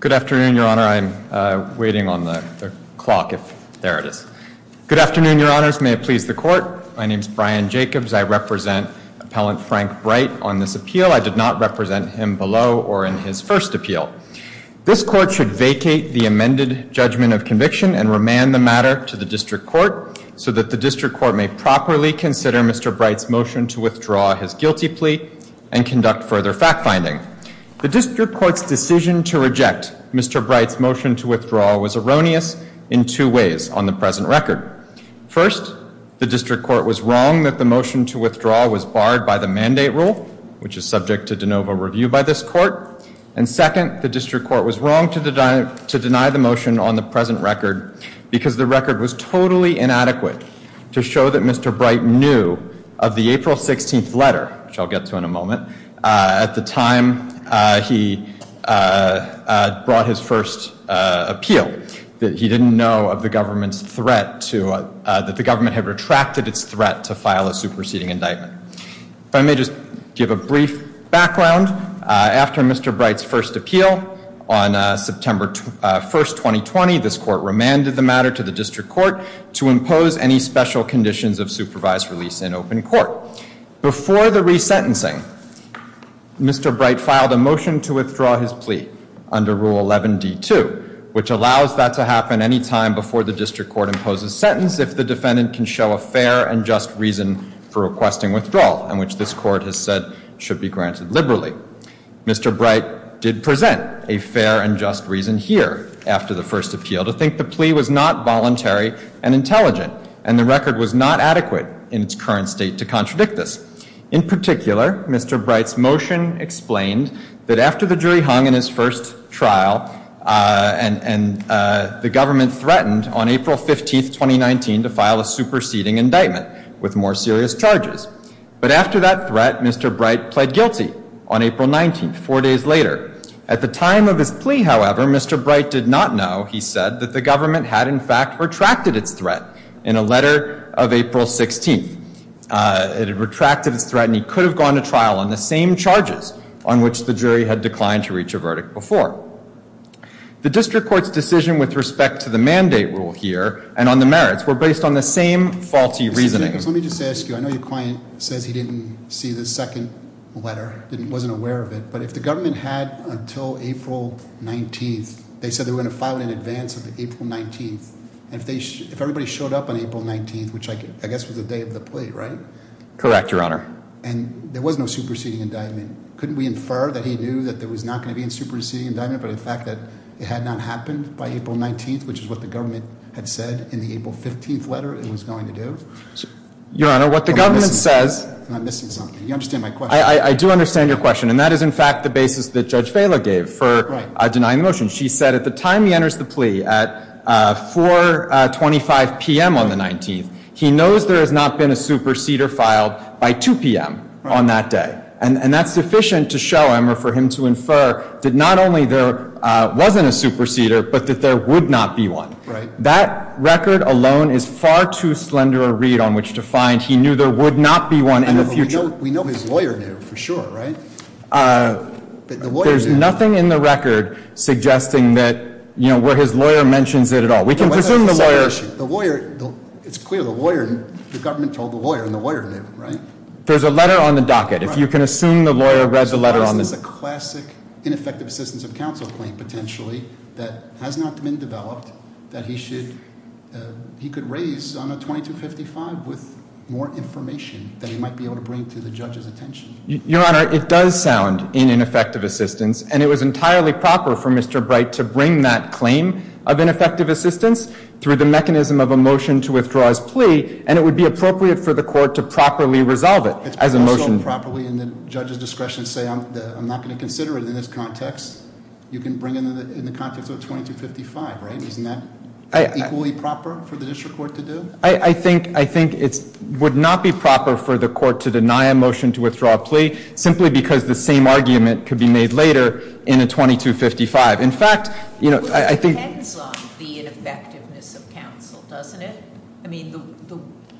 Good afternoon, your honors. May it please the court. My name is Brian Jacobs. I represent appellant Frank Bright on this appeal. I did not represent him below or in his first appeal. This court should vacate the amended judgment of conviction and remand the matter to the motion to withdraw his guilty plea and conduct further fact finding. The district court's decision to reject Mr. Bright's motion to withdraw was erroneous in two ways on the present record. First, the district court was wrong that the motion to withdraw was barred by the mandate rule, which is subject to de novo review by this court. And second, the district court was wrong to deny the motion on the present record because the record was 16th letter, which I'll get to in a moment, at the time he brought his first appeal, that he didn't know of the government's threat to, that the government had retracted its threat to file a superseding indictment. If I may just give a brief background. After Mr. Bright's first appeal on September 1st, 2020, this court remanded the matter to the district court to impose any special conditions of supervised release in open court. Before the resentencing, Mr. Bright filed a motion to withdraw his plea under Rule 11D2, which allows that to happen anytime before the district court imposes sentence if the defendant can show a fair and just reason for requesting withdrawal, and which this court has said should be granted liberally. Mr. Bright did present a fair and just reason here after the first appeal to think the plea was not adequate in its current state to contradict this. In particular, Mr. Bright's motion explained that after the jury hung in his first trial, and the government threatened on April 15th, 2019, to file a superseding indictment with more serious charges. But after that threat, Mr. Bright pled guilty on April 19th, four days later. At the time of his plea, however, Mr. Bright did not know, he said, that the government had, in fact, retracted its threat in a letter of April 16th. It had retracted its threat, and he could have gone to trial on the same charges on which the jury had declined to reach a verdict before. The district court's decision with respect to the mandate rule here, and on the merits, were based on the same faulty reasoning. Let me just ask you, I know your client says he didn't see the second letter, wasn't aware of it, but if the and if everybody showed up on April 19th, which I guess was the day of the plea, right? Correct, your honor. And there was no superseding indictment. Couldn't we infer that he knew that there was not going to be a superseding indictment, but the fact that it had not happened by April 19th, which is what the government had said in the April 15th letter it was going to do? Your honor, what the government says... I'm missing something. You understand my question. I do understand your question, and that is, in fact, the basis that Judge Vela gave for denying the motion. She said at the time he enters the plea, at 425 p.m. on the 19th, he knows there has not been a superseder filed by 2 p.m. on that day. And that's sufficient to show him, or for him to infer, that not only there wasn't a superseder, but that there would not be one. Right. That record alone is far too slender a read on which to find he knew there would not be one in the future. We know his lawyer name for sure, right? There's nothing in the record suggesting that, you know, where his lawyer mentions it at all. We can presume the lawyer... The lawyer, it's clear, the lawyer, the government told the lawyer, and the lawyer knew, right? There's a letter on the docket. If you can assume the lawyer read the letter on the... This is a classic ineffective assistance of counsel claim, potentially, that has not been developed, that he should, he could raise on a 2255 with more information that he might be able to bring to the judge's attention. Your Honor, it does sound in ineffective assistance, and it was entirely proper for Mr. Bright to bring that claim of ineffective assistance through the mechanism of a motion to withdraw his plea. And it would be appropriate for the court to properly resolve it as a motion. Properly in the judge's discretion, say I'm not going to consider it in this context. You can bring it in the context of a 2255, right? Isn't that equally proper for the district court to do? I think it would not be proper for the court to deny a motion to withdraw a plea, simply because the same argument could be made later in a 2255. In fact, you know, I think... It depends on the ineffectiveness of counsel, doesn't it? I mean, the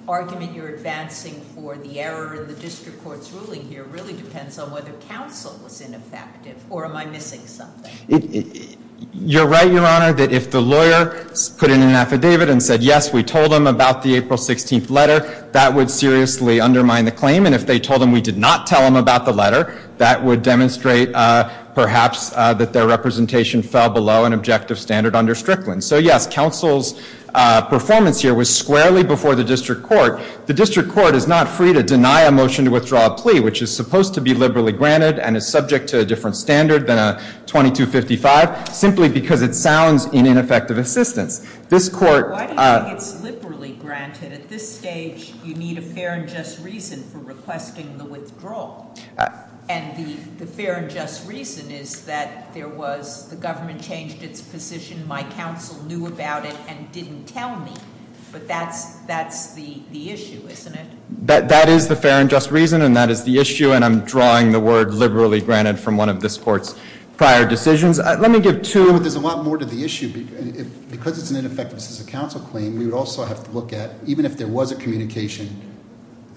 argument you're advancing for the error in the district court's ruling here really depends on whether counsel was ineffective, or am I missing something? You're right, Your Honor, that if the lawyer put in an affidavit and said, yes, we told him about the April 16th letter, that would seriously undermine the claim. And if they told him we did not tell him about the letter, that would demonstrate perhaps that their representation fell below an objective standard under Strickland. So yes, counsel's performance here was squarely before the district court. The district court is not free to deny a motion to withdraw a plea, which is supposed to be liberally granted and is subject to a different standard than a 2255, simply because it sounds in ineffective assistance. This court- Why do you think it's liberally granted? At this stage, you need a fair and just reason for requesting the withdrawal. And the fair and just reason is that there was, the government changed its position. My counsel knew about it and didn't tell me, but that's the issue, isn't it? That is the fair and just reason, and that is the issue, and I'm drawing the word liberally granted from one of this court's prior decisions. Let me give two- There's a lot more to the issue, because it's an ineffectiveness as a counsel claim, we would also have to look at, even if there was a communication,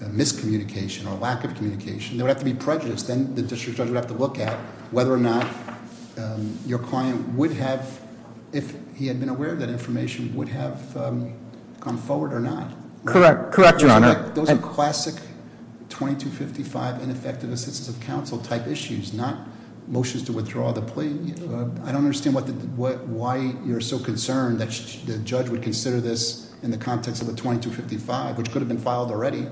a miscommunication or lack of communication, there would have to be prejudice. Then the district judge would have to look at whether or not your client would have, if he had been aware of that information, would have gone forward or not. Correct, correct, your honor. Those are classic 2255 ineffective assistance of counsel type issues, not motions to withdraw the plea. I don't understand why you're so concerned that the judge would consider this in the context of a 2255, which could have been filed already,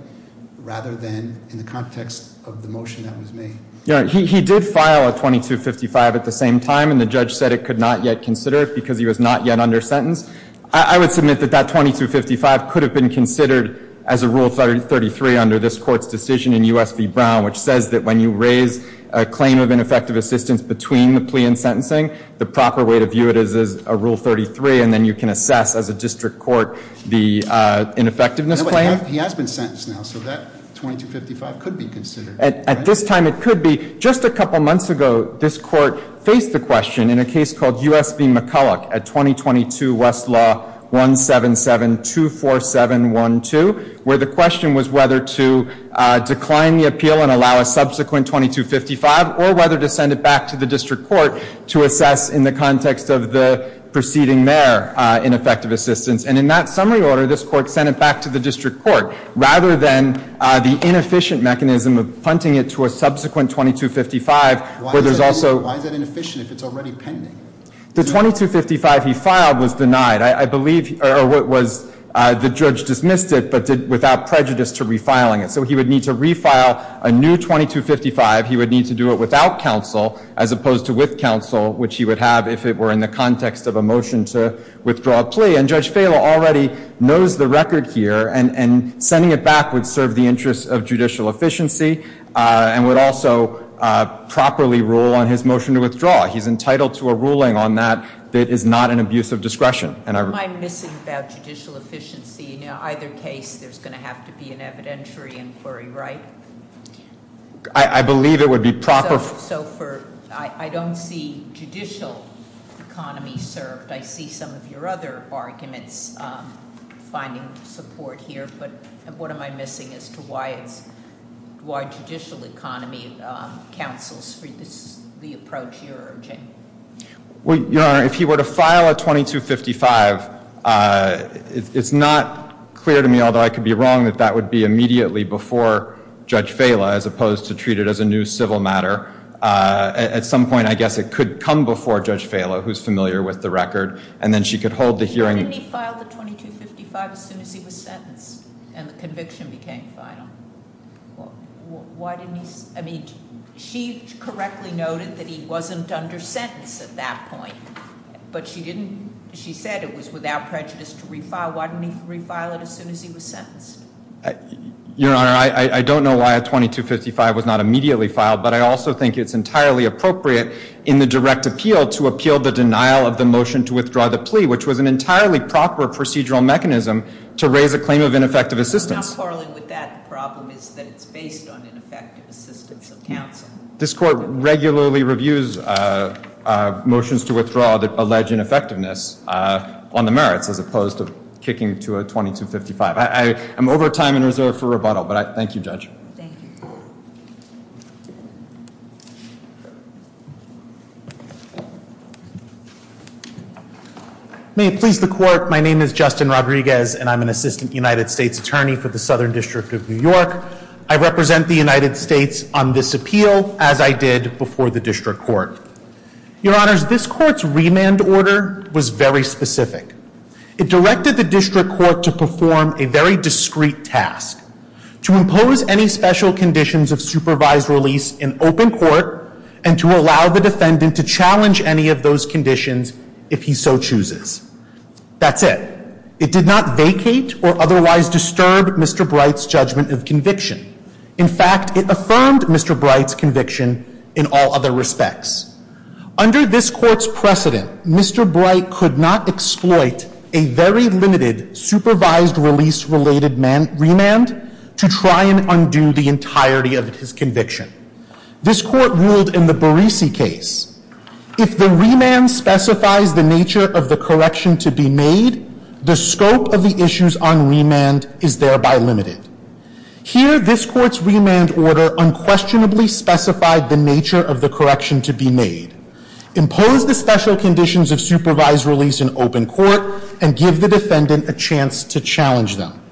rather than in the context of the motion that was made. Your honor, he did file a 2255 at the same time, and the judge said it could not yet consider it because he was not yet under sentence. I would submit that that 2255 could have been considered as a rule 33 under this court's decision in US v Brown, which says that when you raise a claim of ineffective assistance between the plea and sentencing, the proper way to view it is as a rule 33, and then you can assess as a district court the ineffectiveness. He has been sentenced now, so that 2255 could be considered. At this time, it could be. Just a couple months ago, this court faced the question in a case called US v McCulloch at 2022 West Law 17724712, where the question was whether to decline the appeal and allow a subsequent 2255, or whether to send it back to the district court to assess in the context of the proceeding there in effective assistance. And in that summary order, this court sent it back to the district court, rather than the inefficient mechanism of punting it to a subsequent 2255, where there's also- Why is that inefficient if it's already pending? The 2255 he filed was denied. I believe, or what was, the judge dismissed it, but did without prejudice to refiling it. So he would need to refile a new 2255, he would need to do it without counsel, as opposed to with counsel, which he would have if it were in the context of a motion to withdraw a plea. And Judge Falo already knows the record here, and sending it back would serve the interest of judicial efficiency, and would also properly rule on his motion to withdraw. He's entitled to a ruling on that that is not an abuse of discretion. And I- Am I missing about judicial efficiency? In either case, there's going to have to be an evidentiary inquiry, right? I believe it would be proper- So for, I don't see judicial economy served. I see some of your other arguments finding support here, but what am I missing as to why judicial economy counsels for the approach you're urging? Well, Your Honor, if he were to file a 2255, it's not clear to me, although I could be wrong, that that would be immediately before Judge Falo, as opposed to treat it as a new civil matter. At some point, I guess it could come before Judge Falo, who's familiar with the record, and then she could hold the hearing- Why didn't he file the 2255 as soon as he was sentenced, and the conviction became final? Why didn't he, I mean, she correctly noted that he wasn't under sentence at that point. But she didn't, she said it was without prejudice to refile, why didn't he refile it as soon as he was sentenced? Your Honor, I don't know why a 2255 was not immediately filed, but I also think it's entirely appropriate in the direct appeal to appeal the denial of the motion to withdraw the plea, which was an entirely proper procedural mechanism to raise a claim of ineffective assistance. I'm not quarreling with that, the problem is that it's based on ineffective assistance of counsel. This court regularly reviews motions to withdraw that allege ineffectiveness on the merits, as opposed to kicking to a 2255. I'm over time and reserve for rebuttal, but thank you, Judge. Thank you. May it please the court, my name is Justin Rodriguez, and I'm an assistant United States attorney for the Southern District of New York. I represent the United States on this appeal, as I did before the district court. Your honors, this court's remand order was very specific. It directed the district court to perform a very discreet task. To impose any special conditions of supervised release in open court and to allow the defendant to challenge any of those conditions if he so chooses. That's it. It did not vacate or otherwise disturb Mr. Bright's judgment of conviction. In fact, it affirmed Mr. Bright's conviction in all other respects. Under this court's precedent, Mr. Bright could not exploit a very limited supervised release related remand to try and undo the entirety of his conviction. This court ruled in the Barisi case. If the remand specifies the nature of the correction to be made, the scope of the issues on remand is thereby limited. Here, this court's remand order unquestionably specified the nature of the correction to be made. Impose the special conditions of supervised release in open court and give the defendant a chance to challenge them.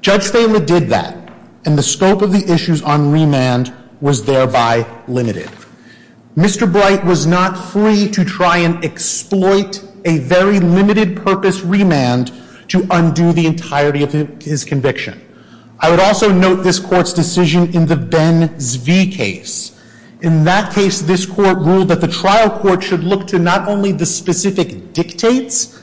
Judge Thaler did that, and the scope of the issues on remand was thereby limited. Mr. Bright was not free to try and exploit a very limited purpose remand to undo the entirety of his conviction. I would also note this court's decision in the Ben Zvi case. In that case, this court ruled that the trial court should look to not only the specific dictates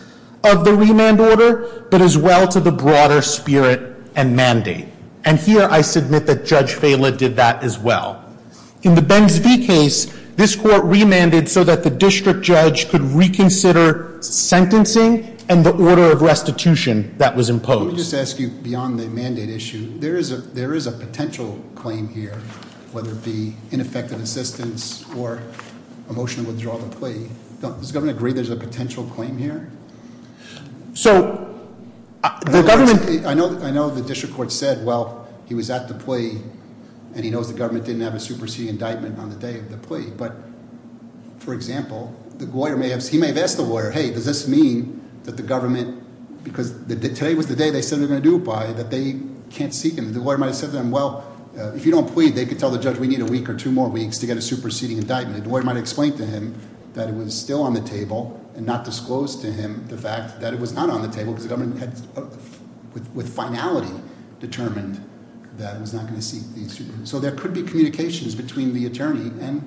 of the remand order, but as well to the broader spirit and mandate. And here, I submit that Judge Thaler did that as well. In the Ben Zvi case, this court remanded so that the district judge could reconsider sentencing and the order of restitution that was imposed. Let me just ask you, beyond the mandate issue, there is a potential claim here, whether it be ineffective assistance or a motion to withdraw the plea. Does the governor agree there's a potential claim here? So, the government- I know the district court said, well, he was at the plea, and he knows the government didn't have a superseding indictment on the day of the plea, but for example, he may have asked the lawyer, hey, does this mean that the government, because today was the day they said they're going to do it by, that they can't seek him. The lawyer might have said to them, well, if you don't plead, they could tell the judge we need a week or two more weeks to get a superseding indictment. The lawyer might have explained to him that it was still on the table and not disclosed to him the fact that it was not on the table, because the government had, with finality, determined that it was not going to seek the execution. So there could be communications between the attorney and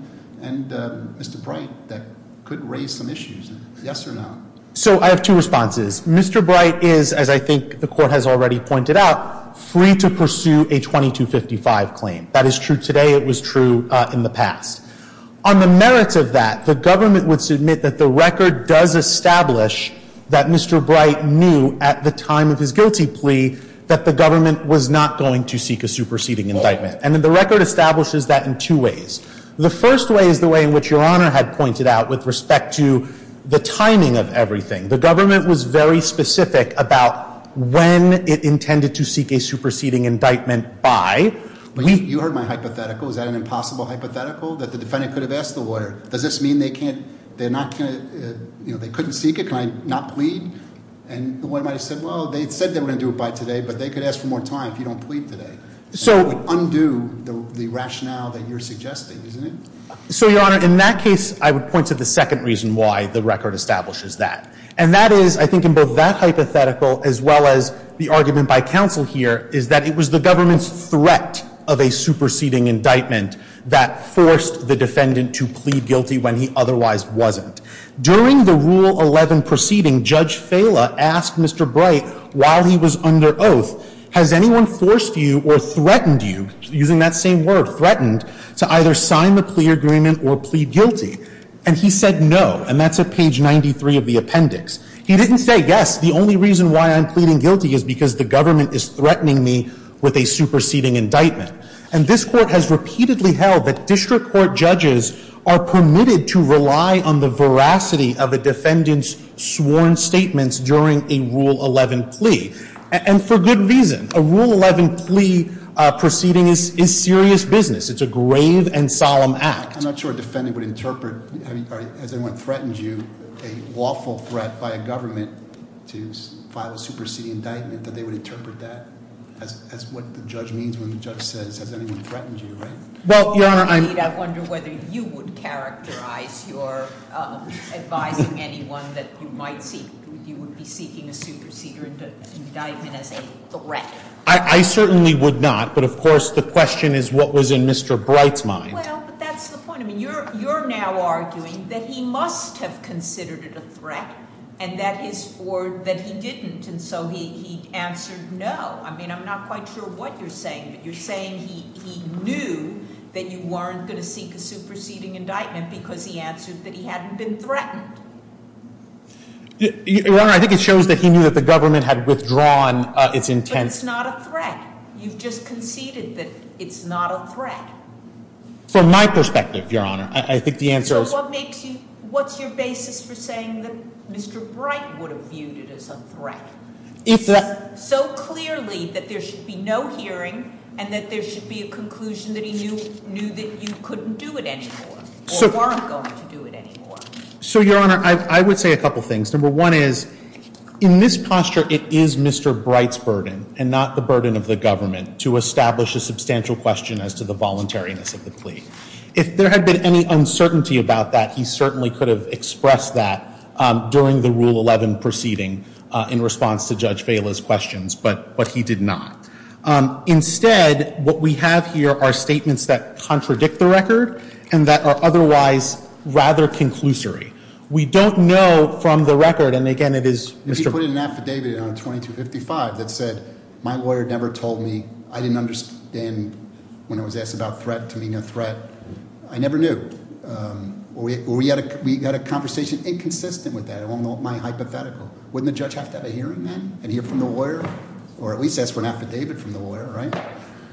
Mr. Bright that could raise some issues. Yes or no? So I have two responses. Mr. Bright is, as I think the court has already pointed out, free to pursue a 2255 claim. That is true today, it was true in the past. On the merits of that, the government would submit that the record does establish that Mr. Bright knew at the time of his guilty plea that the government was not going to seek a superseding indictment. And the record establishes that in two ways. The first way is the way in which your honor had pointed out with respect to the timing of everything. The government was very specific about when it intended to seek a superseding indictment by. You heard my hypothetical, is that an impossible hypothetical? That the defendant could have asked the lawyer, does this mean they couldn't seek it, can I not plead? And the lawyer might have said, well, they said they were going to do it by today, but they could ask for more time if you don't plead today. So- Undo the rationale that you're suggesting, isn't it? So your honor, in that case, I would point to the second reason why the record establishes that. And that is, I think in both that hypothetical as well as the argument by counsel here, is that it was the government's threat of a superseding indictment that forced the defendant to plead guilty when he otherwise wasn't. During the Rule 11 proceeding, Judge Fela asked Mr. Bright, while he was under oath, has anyone forced you or threatened you, using that same word, threatened, to either sign the plea agreement or plead guilty? And he said no, and that's at page 93 of the appendix. He didn't say, yes, the only reason why I'm pleading guilty is because the government is threatening me with a superseding indictment. And this court has repeatedly held that district court judges are permitted to rely on the veracity of a defendant's sworn statements during a Rule 11 plea. And for good reason, a Rule 11 plea proceeding is serious business. It's a grave and solemn act. I'm not sure a defendant would interpret, has anyone threatened you, a lawful threat by a government to file a superseding indictment, that they would interpret that. That's what the judge means when the judge says, has anyone threatened you, right? Well, your honor, I'm- I wonder whether you would characterize your advising anyone that you might seek. Seeking a superseding indictment as a threat. I certainly would not, but of course, the question is what was in Mr. Bright's mind. Well, but that's the point. I mean, you're now arguing that he must have considered it a threat, and that is for, that he didn't. And so he answered no. I mean, I'm not quite sure what you're saying, but you're saying he knew that you weren't going to seek a superseding indictment because he answered that he hadn't been threatened. Your honor, I think it shows that he knew that the government had withdrawn its intense- But it's not a threat. You've just conceded that it's not a threat. From my perspective, your honor, I think the answer is- So what makes you, what's your basis for saying that Mr. Bright would have viewed it as a threat? It's so clearly that there should be no hearing, and that there should be a conclusion that he knew that you couldn't do it anymore, or weren't going to do it anymore. So, your honor, I would say a couple things. Number one is, in this posture, it is Mr. Bright's burden, and not the burden of the government, to establish a substantial question as to the voluntariness of the plea. If there had been any uncertainty about that, he certainly could have expressed that during the Rule 11 proceeding in response to Judge Vela's questions, but he did not. Instead, what we have here are statements that contradict the record, and that are otherwise rather conclusory. We don't know from the record, and again, it is- If you put in an affidavit on 2255 that said, my lawyer never told me, I didn't understand when I was asked about threat, to me no threat, I never knew. We had a conversation inconsistent with that, among my hypothetical. Wouldn't the judge have to have a hearing then, and hear from the lawyer? Or at least ask for an affidavit from the lawyer, right?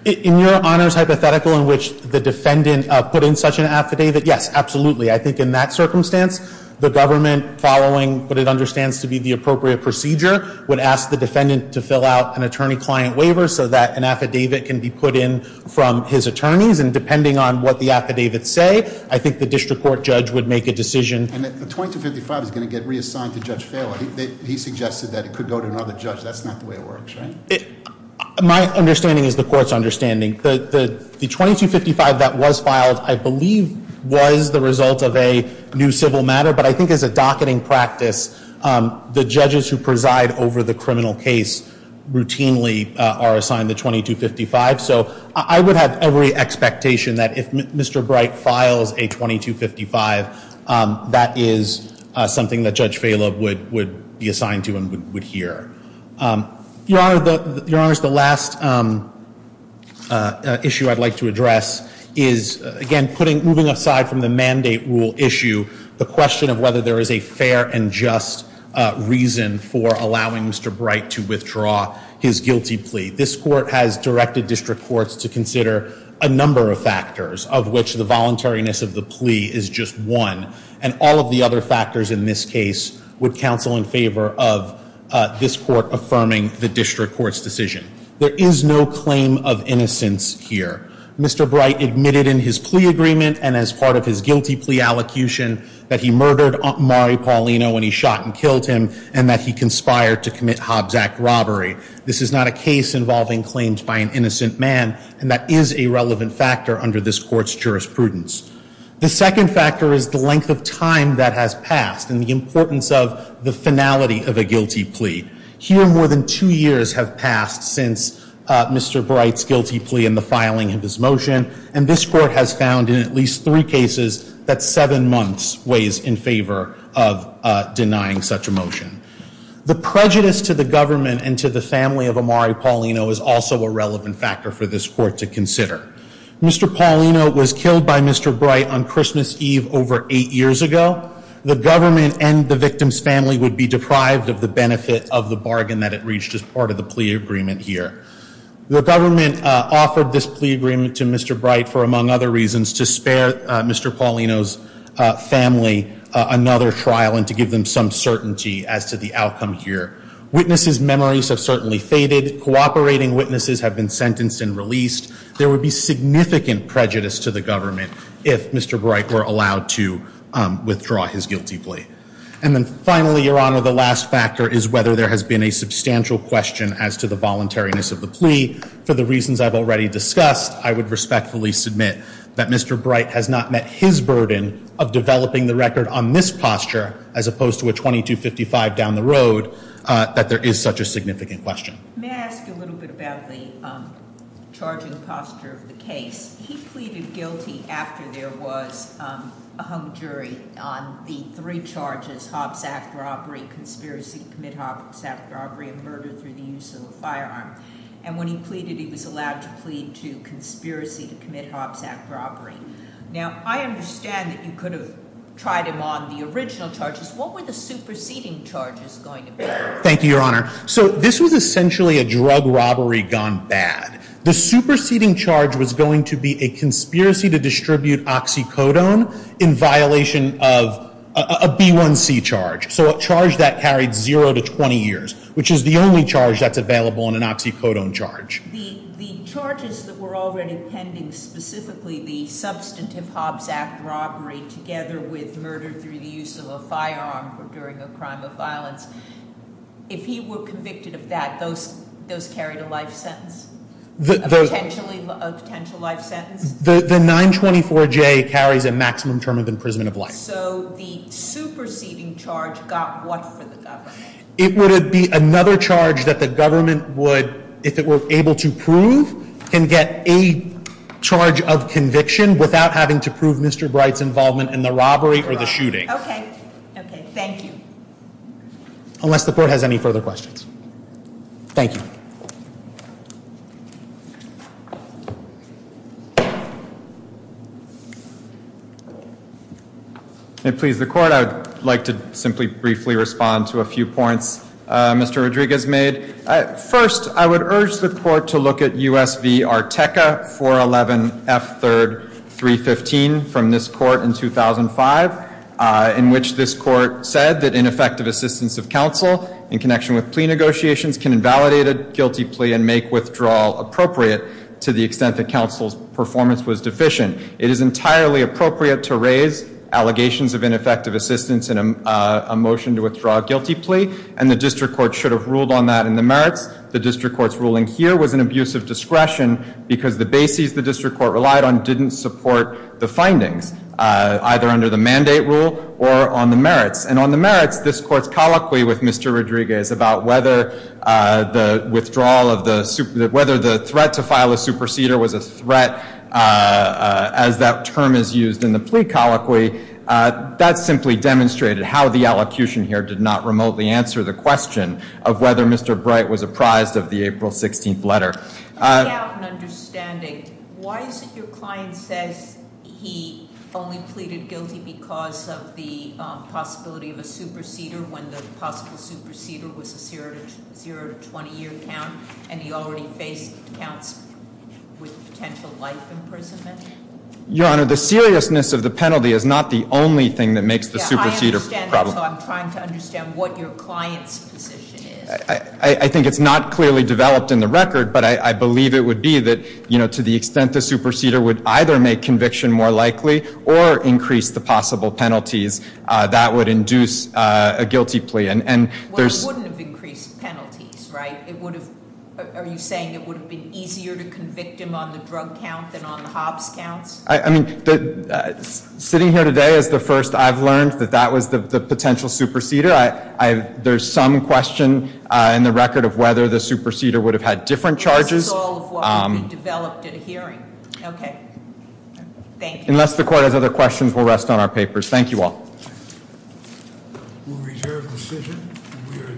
In your honor's hypothetical in which the defendant put in such an affidavit, yes, absolutely. I think in that circumstance, the government following what it understands to be the appropriate procedure, would ask the defendant to fill out an attorney-client waiver so that an affidavit can be put in from his attorneys. And depending on what the affidavits say, I think the district court judge would make a decision. And the 2255 is going to get reassigned to Judge Failer. He suggested that it could go to another judge. That's not the way it works, right? My understanding is the court's understanding. The 2255 that was filed, I believe, was the result of a new civil matter. But I think as a docketing practice, the judges who preside over the criminal case routinely are assigned the 2255. So I would have every expectation that if Mr. Bright files a 2255, that is something that Judge Failer would be assigned to and would hear. Your Honor, the last issue I'd like to address is, again, moving aside from the mandate rule issue, the question of whether there is a fair and just reason for allowing Mr. Bright to withdraw his guilty plea. This court has directed district courts to consider a number of factors of which the voluntariness of the plea is just one. And all of the other factors in this case would counsel in favor of this court affirming the district court's decision. There is no claim of innocence here. Mr. Bright admitted in his plea agreement and as part of his guilty plea allocution that he murdered Mari Paulino when he shot and killed him and that he conspired to commit Hobbs Act robbery. This is not a case involving claims by an innocent man and that is a relevant factor under this court's jurisprudence. The second factor is the length of time that has passed and the importance of the finality of a guilty plea. Here more than two years have passed since Mr. Bright's guilty plea and the filing of his motion. And this court has found in at least three cases that seven months weighs in favor of denying such a motion. The prejudice to the government and to the family of Amari Paulino is also a relevant factor for this court to consider. Mr. Paulino was killed by Mr. Bright on Christmas Eve over eight years ago. The government and the victim's family would be deprived of the benefit of the bargain that it reached as part of the plea agreement here. The government offered this plea agreement to Mr. Bright for among other reasons to spare Mr. Bright another trial and to give them some certainty as to the outcome here. Witnesses' memories have certainly faded, cooperating witnesses have been sentenced and released. There would be significant prejudice to the government if Mr. Bright were allowed to withdraw his guilty plea. And then finally, your honor, the last factor is whether there has been a substantial question as to the voluntariness of the plea. For the reasons I've already discussed, I would respectfully submit that Mr. Paulino has given the record on this posture, as opposed to a 2255 down the road, that there is such a significant question. May I ask you a little bit about the charging posture of the case? He pleaded guilty after there was a hung jury on the three charges, Hobbs Act robbery, conspiracy to commit Hobbs Act robbery, and murder through the use of a firearm. And when he pleaded, he was allowed to plead to conspiracy to commit Hobbs Act robbery. Now, I understand that you could have tried him on the original charges. What were the superseding charges going to be? Thank you, your honor. So this was essentially a drug robbery gone bad. The superseding charge was going to be a conspiracy to distribute oxycodone in violation of a B1C charge. So a charge that carried zero to 20 years, which is the only charge that's available in an oxycodone charge. The charges that were already pending, specifically the substantive Hobbs Act robbery, together with murder through the use of a firearm during a crime of violence. If he were convicted of that, those carried a life sentence? A potential life sentence? The 924J carries a maximum term of imprisonment of life. So the superseding charge got what for the government? It would be another charge that the government would, if it were able to prove, can get a charge of conviction without having to prove Mr. Bright's involvement in the robbery or the shooting. Okay, okay, thank you. Unless the court has any further questions. Thank you. And please, the court, I would like to simply briefly respond to a few points Mr. Rodriguez made. First, I would urge the court to look at USV Arteca 411 F3rd 315 from this court in 2005. In which this court said that ineffective assistance of counsel in connection with plea negotiations can invalidate a guilty plea and make withdrawal appropriate to the extent that counsel's performance was deficient. It is entirely appropriate to raise allegations of ineffective assistance in a motion to withdraw a guilty plea. And the district court should have ruled on that in the merits. The district court's ruling here was an abuse of discretion because the bases the district court relied on didn't support the findings. And on the merits, this court's colloquy with Mr. Rodriguez about whether the withdrawal of the, whether the threat to file a superseder was a threat as that term is used in the plea colloquy. That simply demonstrated how the allocution here did not remotely answer the question of whether Mr. Bright was apprised of the April 16th letter. I have an understanding. Why is it your client says he only pleaded guilty because of the possibility of a superseder, when the possible superseder was a zero to 20 year count? And he already faced counts with potential life imprisonment? Your Honor, the seriousness of the penalty is not the only thing that makes the superseder a problem. Yeah, I understand that, so I'm trying to understand what your client's position is. I think it's not clearly developed in the record, but I believe it would be that to the extent the superseder would either make conviction more likely or increase the possible penalties that would induce a guilty plea. And there's- Well, it wouldn't have increased penalties, right? It would have, are you saying it would have been easier to convict him on the drug count than on the Hobbs counts? I mean, sitting here today is the first I've learned that that was the potential superseder. There's some question in the record of whether the superseder would have had different charges. This is all of what would have been developed at a hearing. Okay, thank you. Unless the court has other questions, we'll rest on our papers. Thank you all. We'll reserve the decision, and we are adjourned. The court is adjourned.